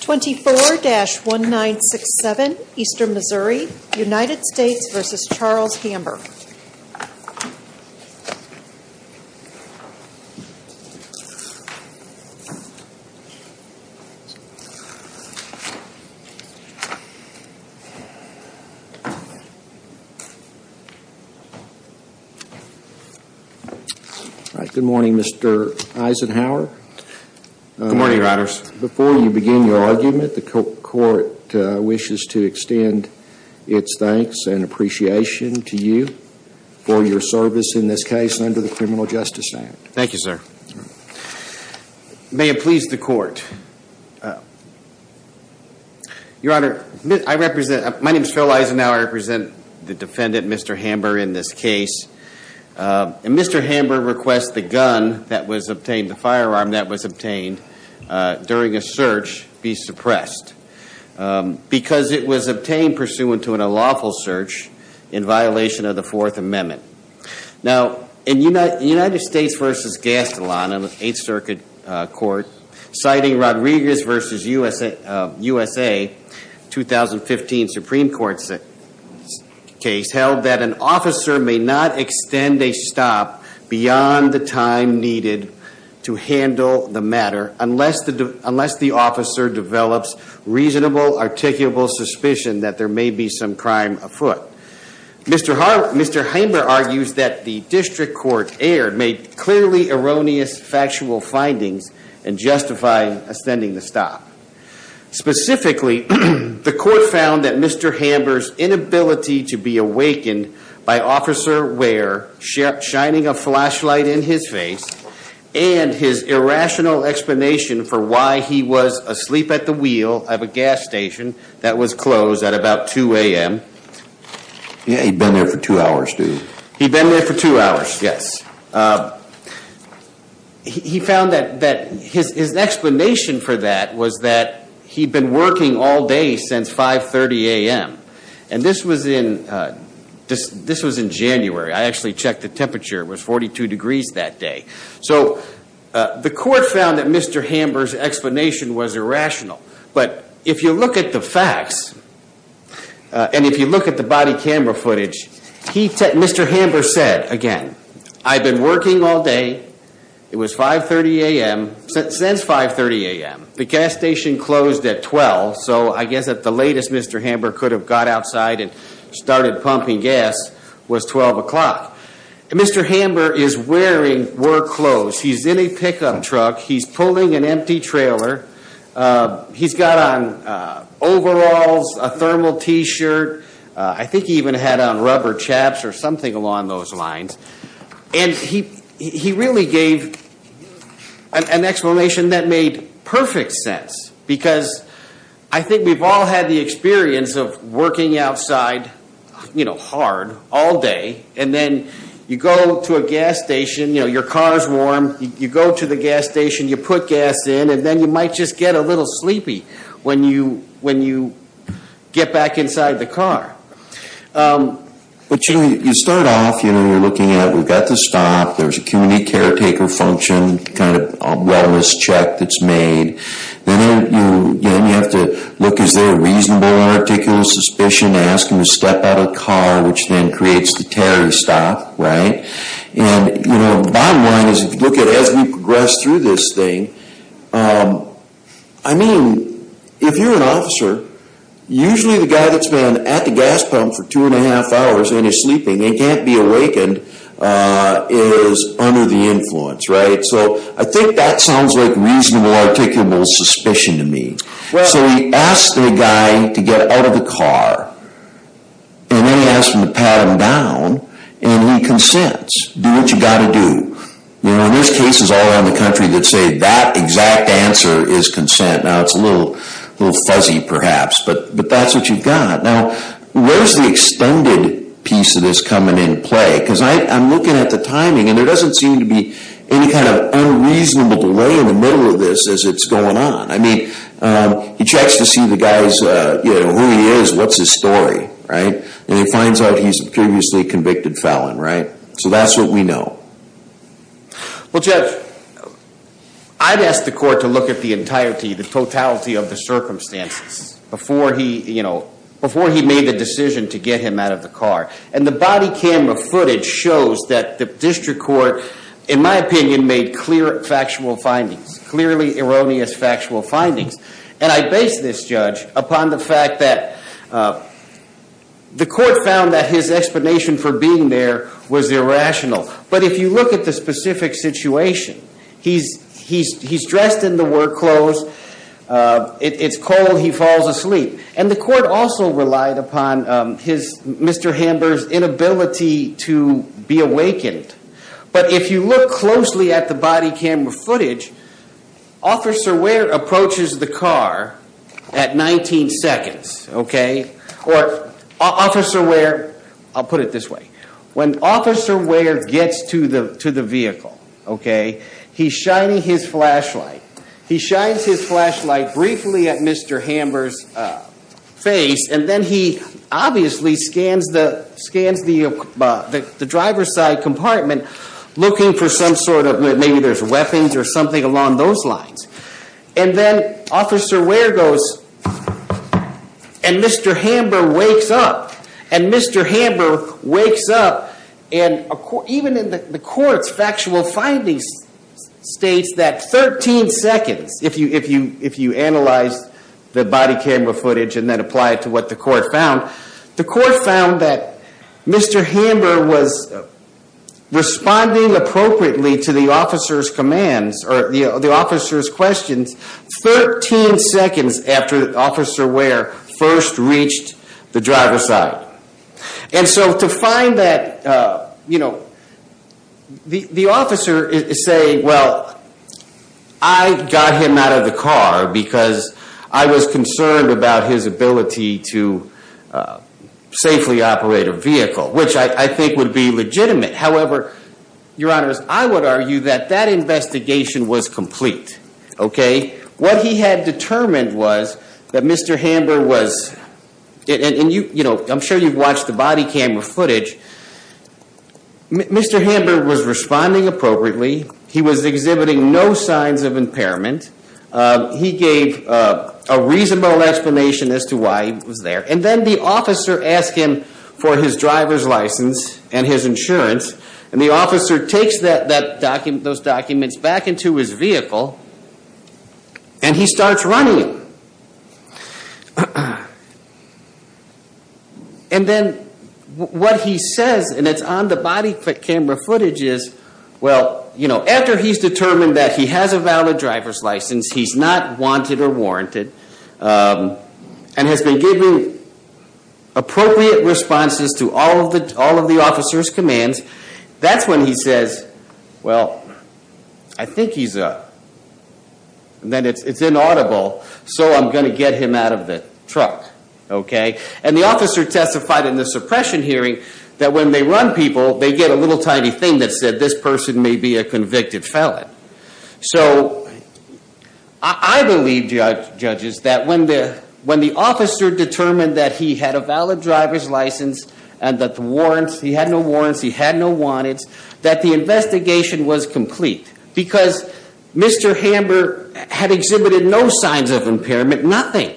24-1967, Eastern Missouri, United States v. Charles Hamber Good morning, Mr. Eisenhower. Good morning, Your Honors. Before you begin your argument, the court wishes to extend its thanks and appreciation to you for your service in this case under the Criminal Justice Act. Thank you, sir. May it please the court. Your Honor, I represent, my name is Phil Eisenhower, I represent the defendant, Mr. Hamber, in this case. And Mr. Hamber requests the gun that was obtained, the firearm that was obtained during a search be suppressed because it was obtained pursuant to an unlawful search in violation of the Fourth Amendment. Now in United States v. Gastelan in the Eighth Circuit Court, citing Rodriguez v. USA, 2015 Supreme Court case, held that an officer may not extend a stop beyond the time needed to handle the matter unless the officer develops reasonable, articulable suspicion that there may be some crime afoot. Mr. Hamber argues that the district court error made clearly erroneous factual findings and justified extending the stop. Specifically, the court found that Mr. Hamber's inability to be awakened by Officer Ware shining a flashlight in his face and his irrational explanation for why he was asleep at the wheel of a gas station that was closed at about 2 a.m. Yeah, he'd been there for two hours, too. He'd been there for two hours, yes. He found that his explanation for that was that he'd been working all day since 5.30 a.m. And this was in January, I actually checked the temperature, it was 42 degrees that day. So the court found that Mr. Hamber's explanation was irrational. But if you look at the facts, and if you look at the body camera footage, Mr. Hamber said, again, I've been working all day, it was 5.30 a.m., since 5.30 a.m. The gas station closed at 12, so I guess at the latest Mr. Hamber could have got outside and started pumping gas was 12 o'clock. Mr. Hamber is wearing work clothes. He's in a pickup truck. He's pulling an empty trailer. He's got on overalls, a thermal t-shirt, I think he even had on rubber chaps or something along those lines. And he really gave an explanation that made perfect sense. Because I think we've all had the experience of working outside, you know, hard, all day, and then you go to a gas station, you know, your car's warm, you go to the gas station, you put gas in, and then you might just get a little sleepy when you get back inside the car. But, you know, you start off, you know, you're looking at, we've got to stop, there's a community caretaker function, kind of a wellness check that's made, then you have to look, is there a reasonable and articulate suspicion, ask him to step out of the car, which then creates the terror to stop, right? And, you know, the bottom line is, if you look at it as we progress through this thing, I mean, if you're an officer, usually the guy that's been at the gas pump for two and a half hours and is sleeping and can't be awakened is under the influence, right? So I think that sounds like reasonable, articulable suspicion to me. So he asks the guy to get out of the car, and then he asks him to pat him down, and he consents. Do what you've got to do. You know, and there's cases all around the country that say that exact answer is consent. Now, it's a little fuzzy, perhaps, but that's what you've got. Now, where's the extended piece of this coming into play? Because I'm looking at the timing, and there doesn't seem to be any kind of unreasonable delay in the middle of this as it's going on. I mean, he checks to see the guy's, you know, who he is, what's his story, right? And he finds out he's a previously convicted felon, right? So that's what we know. Well, Judge, I'd ask the court to look at the entirety, the totality of the circumstances before he, you know, before he made the decision to get him out of the car. And the body camera footage shows that the district court, in my opinion, made clear factual findings, clearly erroneous factual findings. And I base this, Judge, upon the fact that the court found that his explanation for being there was irrational. But if you look at the specific situation, he's dressed in the work clothes, it's cold, he falls asleep. And the court also relied upon his, Mr. Hamber's inability to be awakened. But if you look closely at the body camera footage, Officer Ware approaches the car at 19 seconds, okay? Or Officer Ware, I'll put it this way. When Officer Ware gets to the vehicle, okay, he's shining his flashlight. He shines his flashlight briefly at Mr. Hamber's face, and then he obviously scans the driver's side compartment looking for some sort of, maybe there's weapons or something along those lines. And then Officer Ware goes, and Mr. Hamber wakes up. And Mr. Hamber wakes up, and even in the court's factual findings states that 13 seconds, if you analyze the body camera footage and then apply it to what the court found. The court found that Mr. Hamber was responding appropriately to the officer's commands, or the officer's questions, 13 seconds after Officer Ware first reached the driver's side. And so to find that, the officer is saying, well, I got him out of the car because I was concerned about his ability to safely operate a vehicle, which I think would be legitimate. However, Your Honor, I would argue that that investigation was complete, okay? What he had determined was that Mr. Hamber was, and I'm sure you've watched the body camera footage, Mr. Hamber was responding appropriately. He was exhibiting no signs of impairment. He gave a reasonable explanation as to why he was there. And then the officer asked him for his driver's license and his insurance, and the officer takes those documents back into his vehicle, and he starts running. And then what he says, and it's on the body camera footage, is, well, after he's determined that he has a valid driver's license, he's not wanted or warranted, and has been giving appropriate responses to all of the officer's commands, that's when he says, well, I think he's, then it's inaudible, so I'm going to get him out of the truck, okay? And the officer testified in the suppression hearing that when they run people, they get a little tiny thing that said, this person may be a convicted felon. So I believe, judges, that when the officer determined that he had a valid driver's license and that the warrants, he had no warrants, he had no wanteds, that the investigation was complete. Because Mr. Hamber had exhibited no signs of impairment, nothing.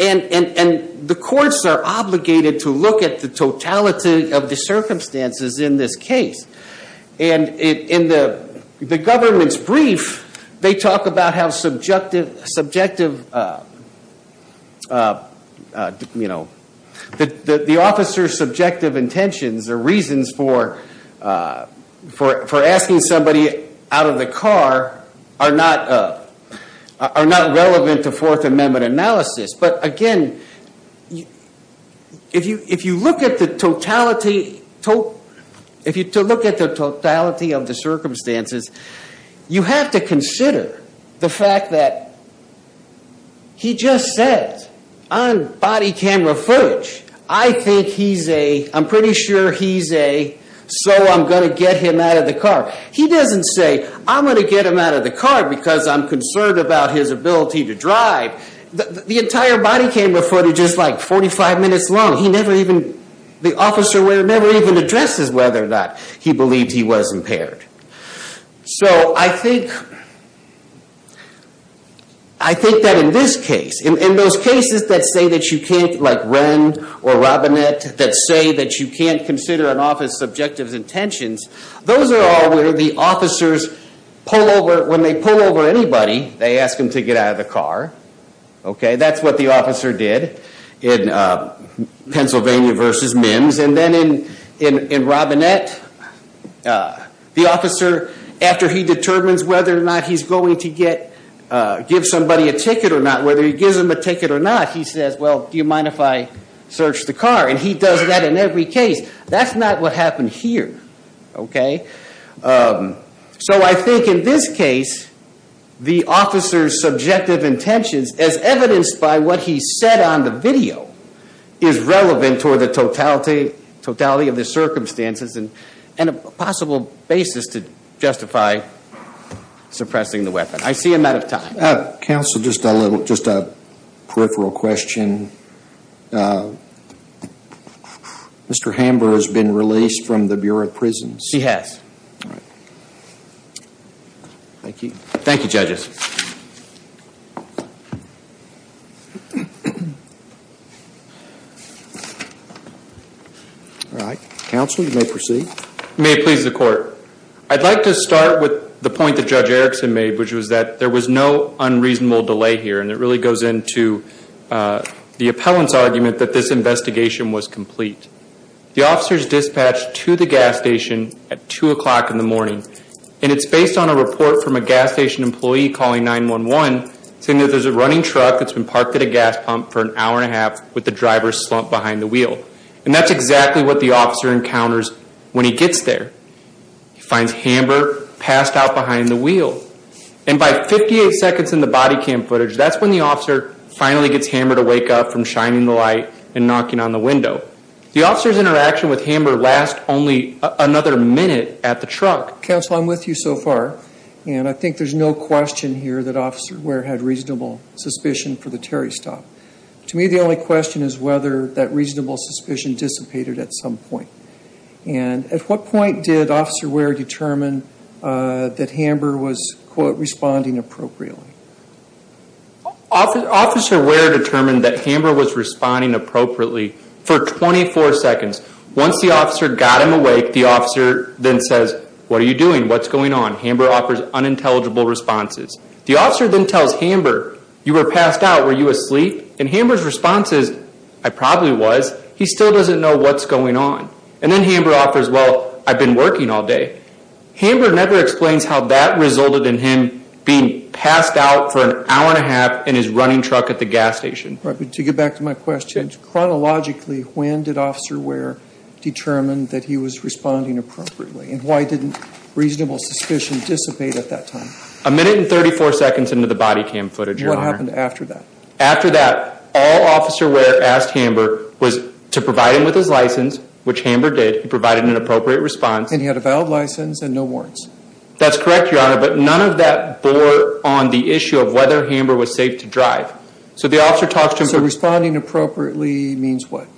And the courts are obligated to look at the totality of the circumstances in this case. And in the government's brief, they talk about how subjective, you know, the officer's subjective intentions or reasons for asking somebody out of the car are not relevant to Fourth Amendment cases. But again, if you look at the totality of the circumstances, you have to consider the fact that he just said on body camera footage, I think he's a, I'm pretty sure he's a, so I'm going to get him out of the car. He doesn't say, I'm going to get him out of the car because I'm concerned about his ability to drive. The entire body camera footage is like 45 minutes long. He never even, the officer never even addresses whether or not he believes he was impaired. So I think, I think that in this case, in those cases that say that you can't like Wren or Robinette, that say that you can't consider an officer's subjective intentions, those are all where the officers pull over, when they pull over anybody, they ask them to get out of the car. Okay? That's what the officer did in Pennsylvania versus MIMS. And then in Robinette, the officer, after he determines whether or not he's going to get, give somebody a ticket or not, whether he gives them a ticket or not, he says, well, do you mind if I search the car? And he does that in every case. That's not what happened here. Okay? So I think in this case, the officer's subjective intentions, as evidenced by what he said on the video, is relevant toward the totality of the circumstances and a possible basis to justify suppressing the weapon. I see I'm out of time. Counsel, just a little, just a peripheral question. Mr. Hamber has been released from the Bureau of Prisons. He has. Thank you. Thank you, judges. All right. Counsel, you may proceed. May it please the court. I'd like to start with the point that Judge Erickson made, which was that there was no unreasonable delay here, and it really goes into the appellant's argument that this investigation was complete. The officer is dispatched to the gas station at 2 o'clock in the morning, and it's based on a report from a gas station employee calling 911, saying that there's a running truck that's been parked at a gas pump for an hour and a half with the driver slumped behind the And that's exactly what the officer encounters when he gets there. He finds Hamber passed out behind the wheel. And by 58 seconds in the body cam footage, that's when the officer finally gets Hamber to wake up from shining the light and knocking on the window. The officer's interaction with Hamber lasts only another minute at the truck. Counsel, I'm with you so far, and I think there's no question here that Officer Ware had reasonable suspicion for the Terry stop. To me, the only question is whether that reasonable suspicion dissipated at some point. And at what point did Officer Ware determine that Hamber was, quote, responding appropriately? Officer Ware determined that Hamber was responding appropriately for 24 seconds. Once the officer got him awake, the officer then says, what are you doing? What's going on? Hamber offers unintelligible responses. The officer then tells Hamber, you were passed out, were you asleep? And Hamber's response is, I probably was. He still doesn't know what's going on. And then Hamber offers, well, I've been working all day. Hamber never explains how that resulted in him being passed out for an hour and a half in his running truck at the gas station. Right, but to get back to my question, chronologically, when did Officer Ware determine that he was responding appropriately? And why didn't reasonable suspicion dissipate at that time? A minute and 34 seconds into the body cam footage, Your Honor. What happened after that? After that, all Officer Ware asked Hamber was to provide him with his license, which Hamber did. He provided an appropriate response. And he had a valid license and no warrants. That's correct, Your Honor, but none of that bore on the issue of whether Hamber was safe to drive. So the officer talks to him. So responding appropriately means what?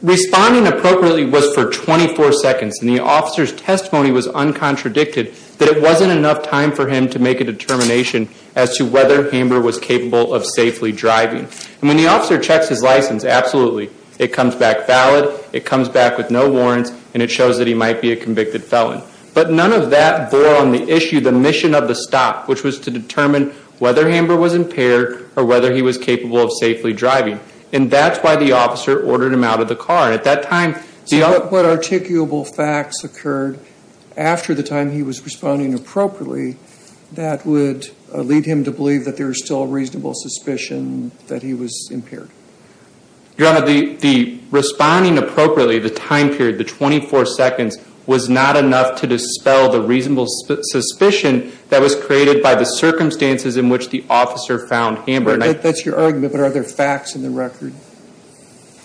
Responding appropriately was for 24 seconds, and the officer's testimony was uncontradicted that it wasn't enough time for him to make a determination as to whether Hamber was capable of safely driving. And when the officer checks his license, absolutely, it comes back valid. It comes back with no warrants, and it shows that he might be a convicted felon. But none of that bore on the issue, the mission of the stop, which was to determine whether Hamber was impaired or whether he was capable of safely driving. And that's why the officer ordered him out of the car. And at that time, the other... So what articulable facts occurred after the time he was responding appropriately that would lead him to believe that there was still reasonable suspicion that he was impaired? Your Honor, the responding appropriately, the time period, the 24 seconds, was not enough to dispel the reasonable suspicion that was created by the circumstances in which the officer found Hamber. That's your argument, but are there facts in the record?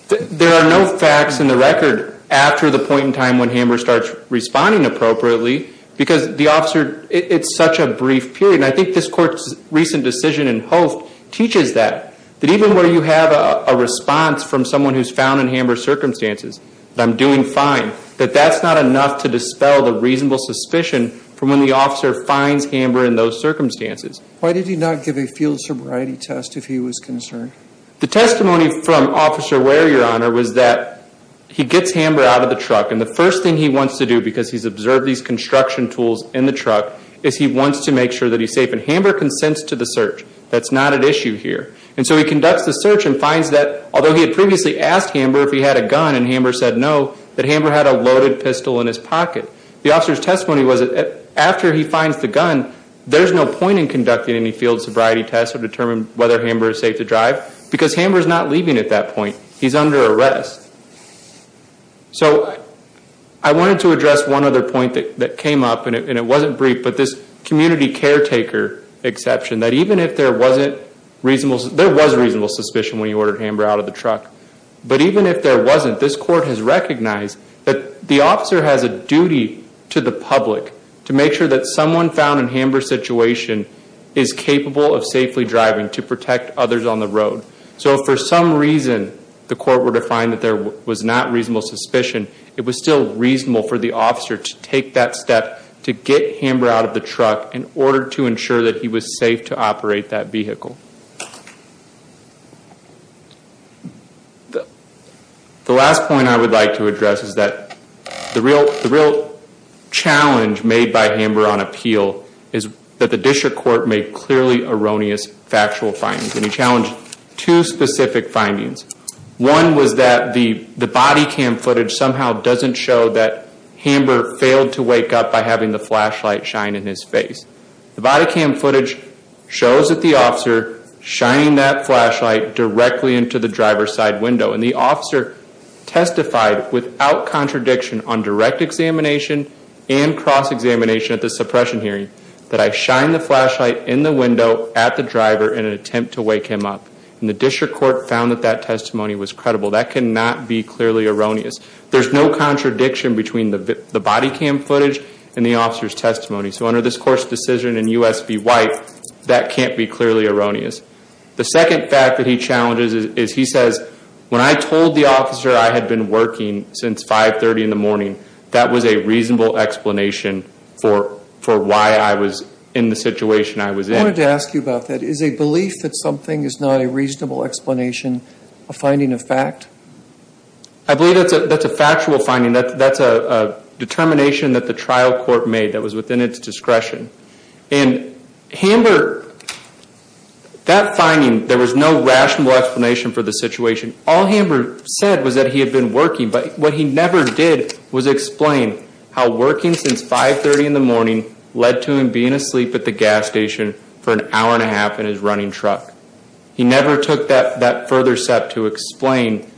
There are no facts in the record after the point in time when Hamber starts responding appropriately because the officer... It's such a brief period. And I think this court's recent decision in Host teaches that, that even where you have a response from someone who's found in Hamber's circumstances, that I'm doing fine, that that's not enough to dispel the reasonable suspicion from when the officer finds Hamber in those circumstances. Why did he not give a field sobriety test if he was concerned? The testimony from Officer Ware, Your Honor, was that he gets Hamber out of the truck. And the first thing he wants to do, because he's observed these construction tools in the truck, is he wants to make sure that he's safe. And Hamber consents to the search. That's not an issue here. And so he conducts the search and finds that, although he had previously asked Hamber if he had a gun and Hamber said no, that Hamber had a loaded pistol in his pocket. The officer's testimony was that after he finds the gun, there's no point in conducting any field sobriety test to determine whether Hamber is safe to drive because Hamber's not leaving at that point. He's under arrest. So, I wanted to address one other point that came up, and it wasn't brief, but this community caretaker exception, that even if there wasn't reasonable, there was reasonable suspicion when he ordered Hamber out of the truck, but even if there wasn't, this court has recognized that the officer has a duty to the public to make sure that someone found in Hamber's situation is capable of safely driving to protect others on the road. So if for some reason the court were to find that there was not reasonable suspicion, it was still reasonable for the officer to take that step to get Hamber out of the truck in order to ensure that he was safe to operate that vehicle. The last point I would like to address is that the real challenge made by Hamber on appeal is that the district court made clearly erroneous factual findings. And he challenged two specific findings. One was that the body cam footage somehow doesn't show that Hamber failed to wake up by having the flashlight shine in his face. The body cam footage shows that the officer shining that flashlight directly into the driver's side window, and the officer testified without contradiction on direct examination and cross-examination at the suppression hearing that I shined the flashlight in the window at the driver in an attempt to wake him up. And the district court found that that testimony was credible. That cannot be clearly erroneous. There's no contradiction between the body cam footage and the officer's testimony. So under this court's decision in U.S. v. White, that can't be clearly erroneous. The second fact that he challenges is he says, when I told the officer I had been working since 530 in the morning, that was a reasonable explanation for why I was in the situation I was in. I wanted to ask you about that. Is a belief that something is not a reasonable explanation a finding of fact? I believe that's a factual finding. That's a determination that the trial court made that was within its discretion. And Hamber, that finding, there was no rational explanation for the situation. All Hamber said was that he had been working, but what he never did was explain how working since 530 in the morning led to him being asleep at the gas station for an hour and a half in his running truck. He never took that further step to explain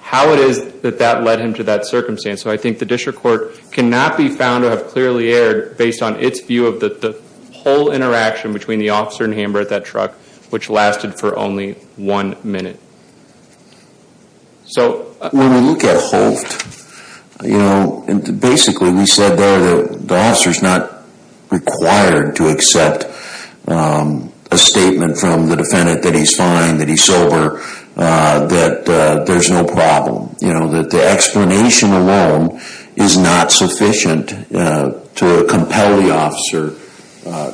how it is that that led him to that circumstance. So I think the district court cannot be found to have clearly erred based on its view of the whole interaction between the officer and Hamber at that truck, which lasted for only one minute. So, when we look at Holt, you know, basically we said there that the officer is not required to accept a statement from the defendant that he's fine, that he's sober, that there's no problem. You know, that the explanation alone is not sufficient to compel the officer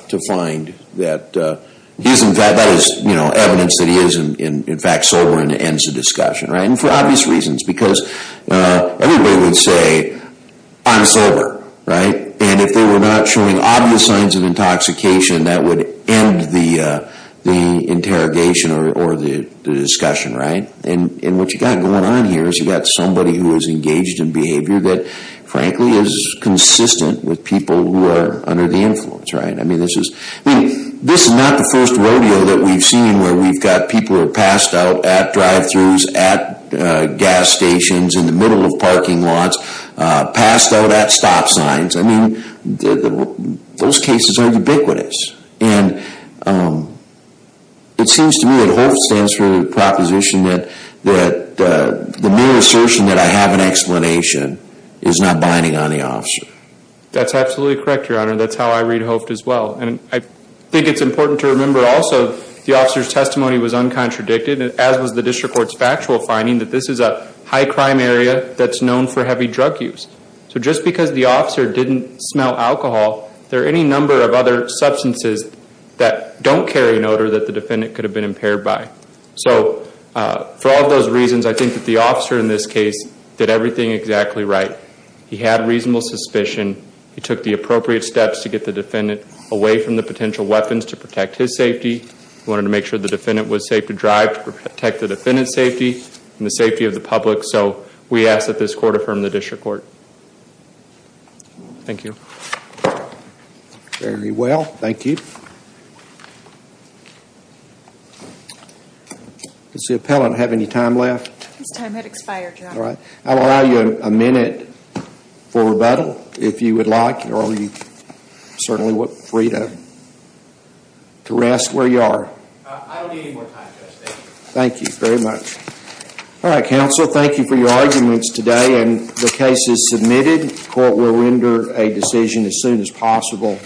to find that he's in fact, that is evidence that he is in fact sober and ends the discussion, right? And for obvious reasons, because everybody would say, I'm sober, right? And if they were not showing obvious signs of intoxication, that would end the interrogation or the discussion, right? And what you've got going on here is you've got somebody who is engaged in behavior that frankly is consistent with people who are under the influence, right? I mean, this is not the first rodeo that we've seen where we've got people who are passed out at drive-thrus, at gas stations, in the middle of parking lots, passed out at stop signs. I mean, those cases are ubiquitous. And it seems to me that Holt stands for the proposition that the mere assertion that I have an explanation is not binding on the officer. That's absolutely correct, Your Honor. That's how I read Holt as well. And I think it's important to remember also the officer's testimony was uncontradicted as was the district court's factual finding that this is a high crime area that's known for heavy drug use. So just because the officer didn't smell alcohol, there are any number of other substances that don't carry an odor that the defendant could have been impaired by. So for all of those reasons, I think that the officer in this case did everything exactly right. He had reasonable suspicion. He took the appropriate steps to get the defendant away from the potential weapons to protect his safety. He wanted to make sure the defendant was safe to drive to protect the defendant's safety and the safety of the public. So we ask that this court affirm the district court. Thank you. Very well. Thank you. Does the appellant have any time left? His time has expired, Your Honor. All right. We'll allow you a minute for rebuttal if you would like or you certainly are free to rest where you are. I don't need any more time, Judge. Thank you. Thank you very much. All right, counsel. Thank you for your arguments today and the case is submitted. The court will render a decision as soon as possible.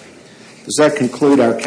Does that conclude our testimony?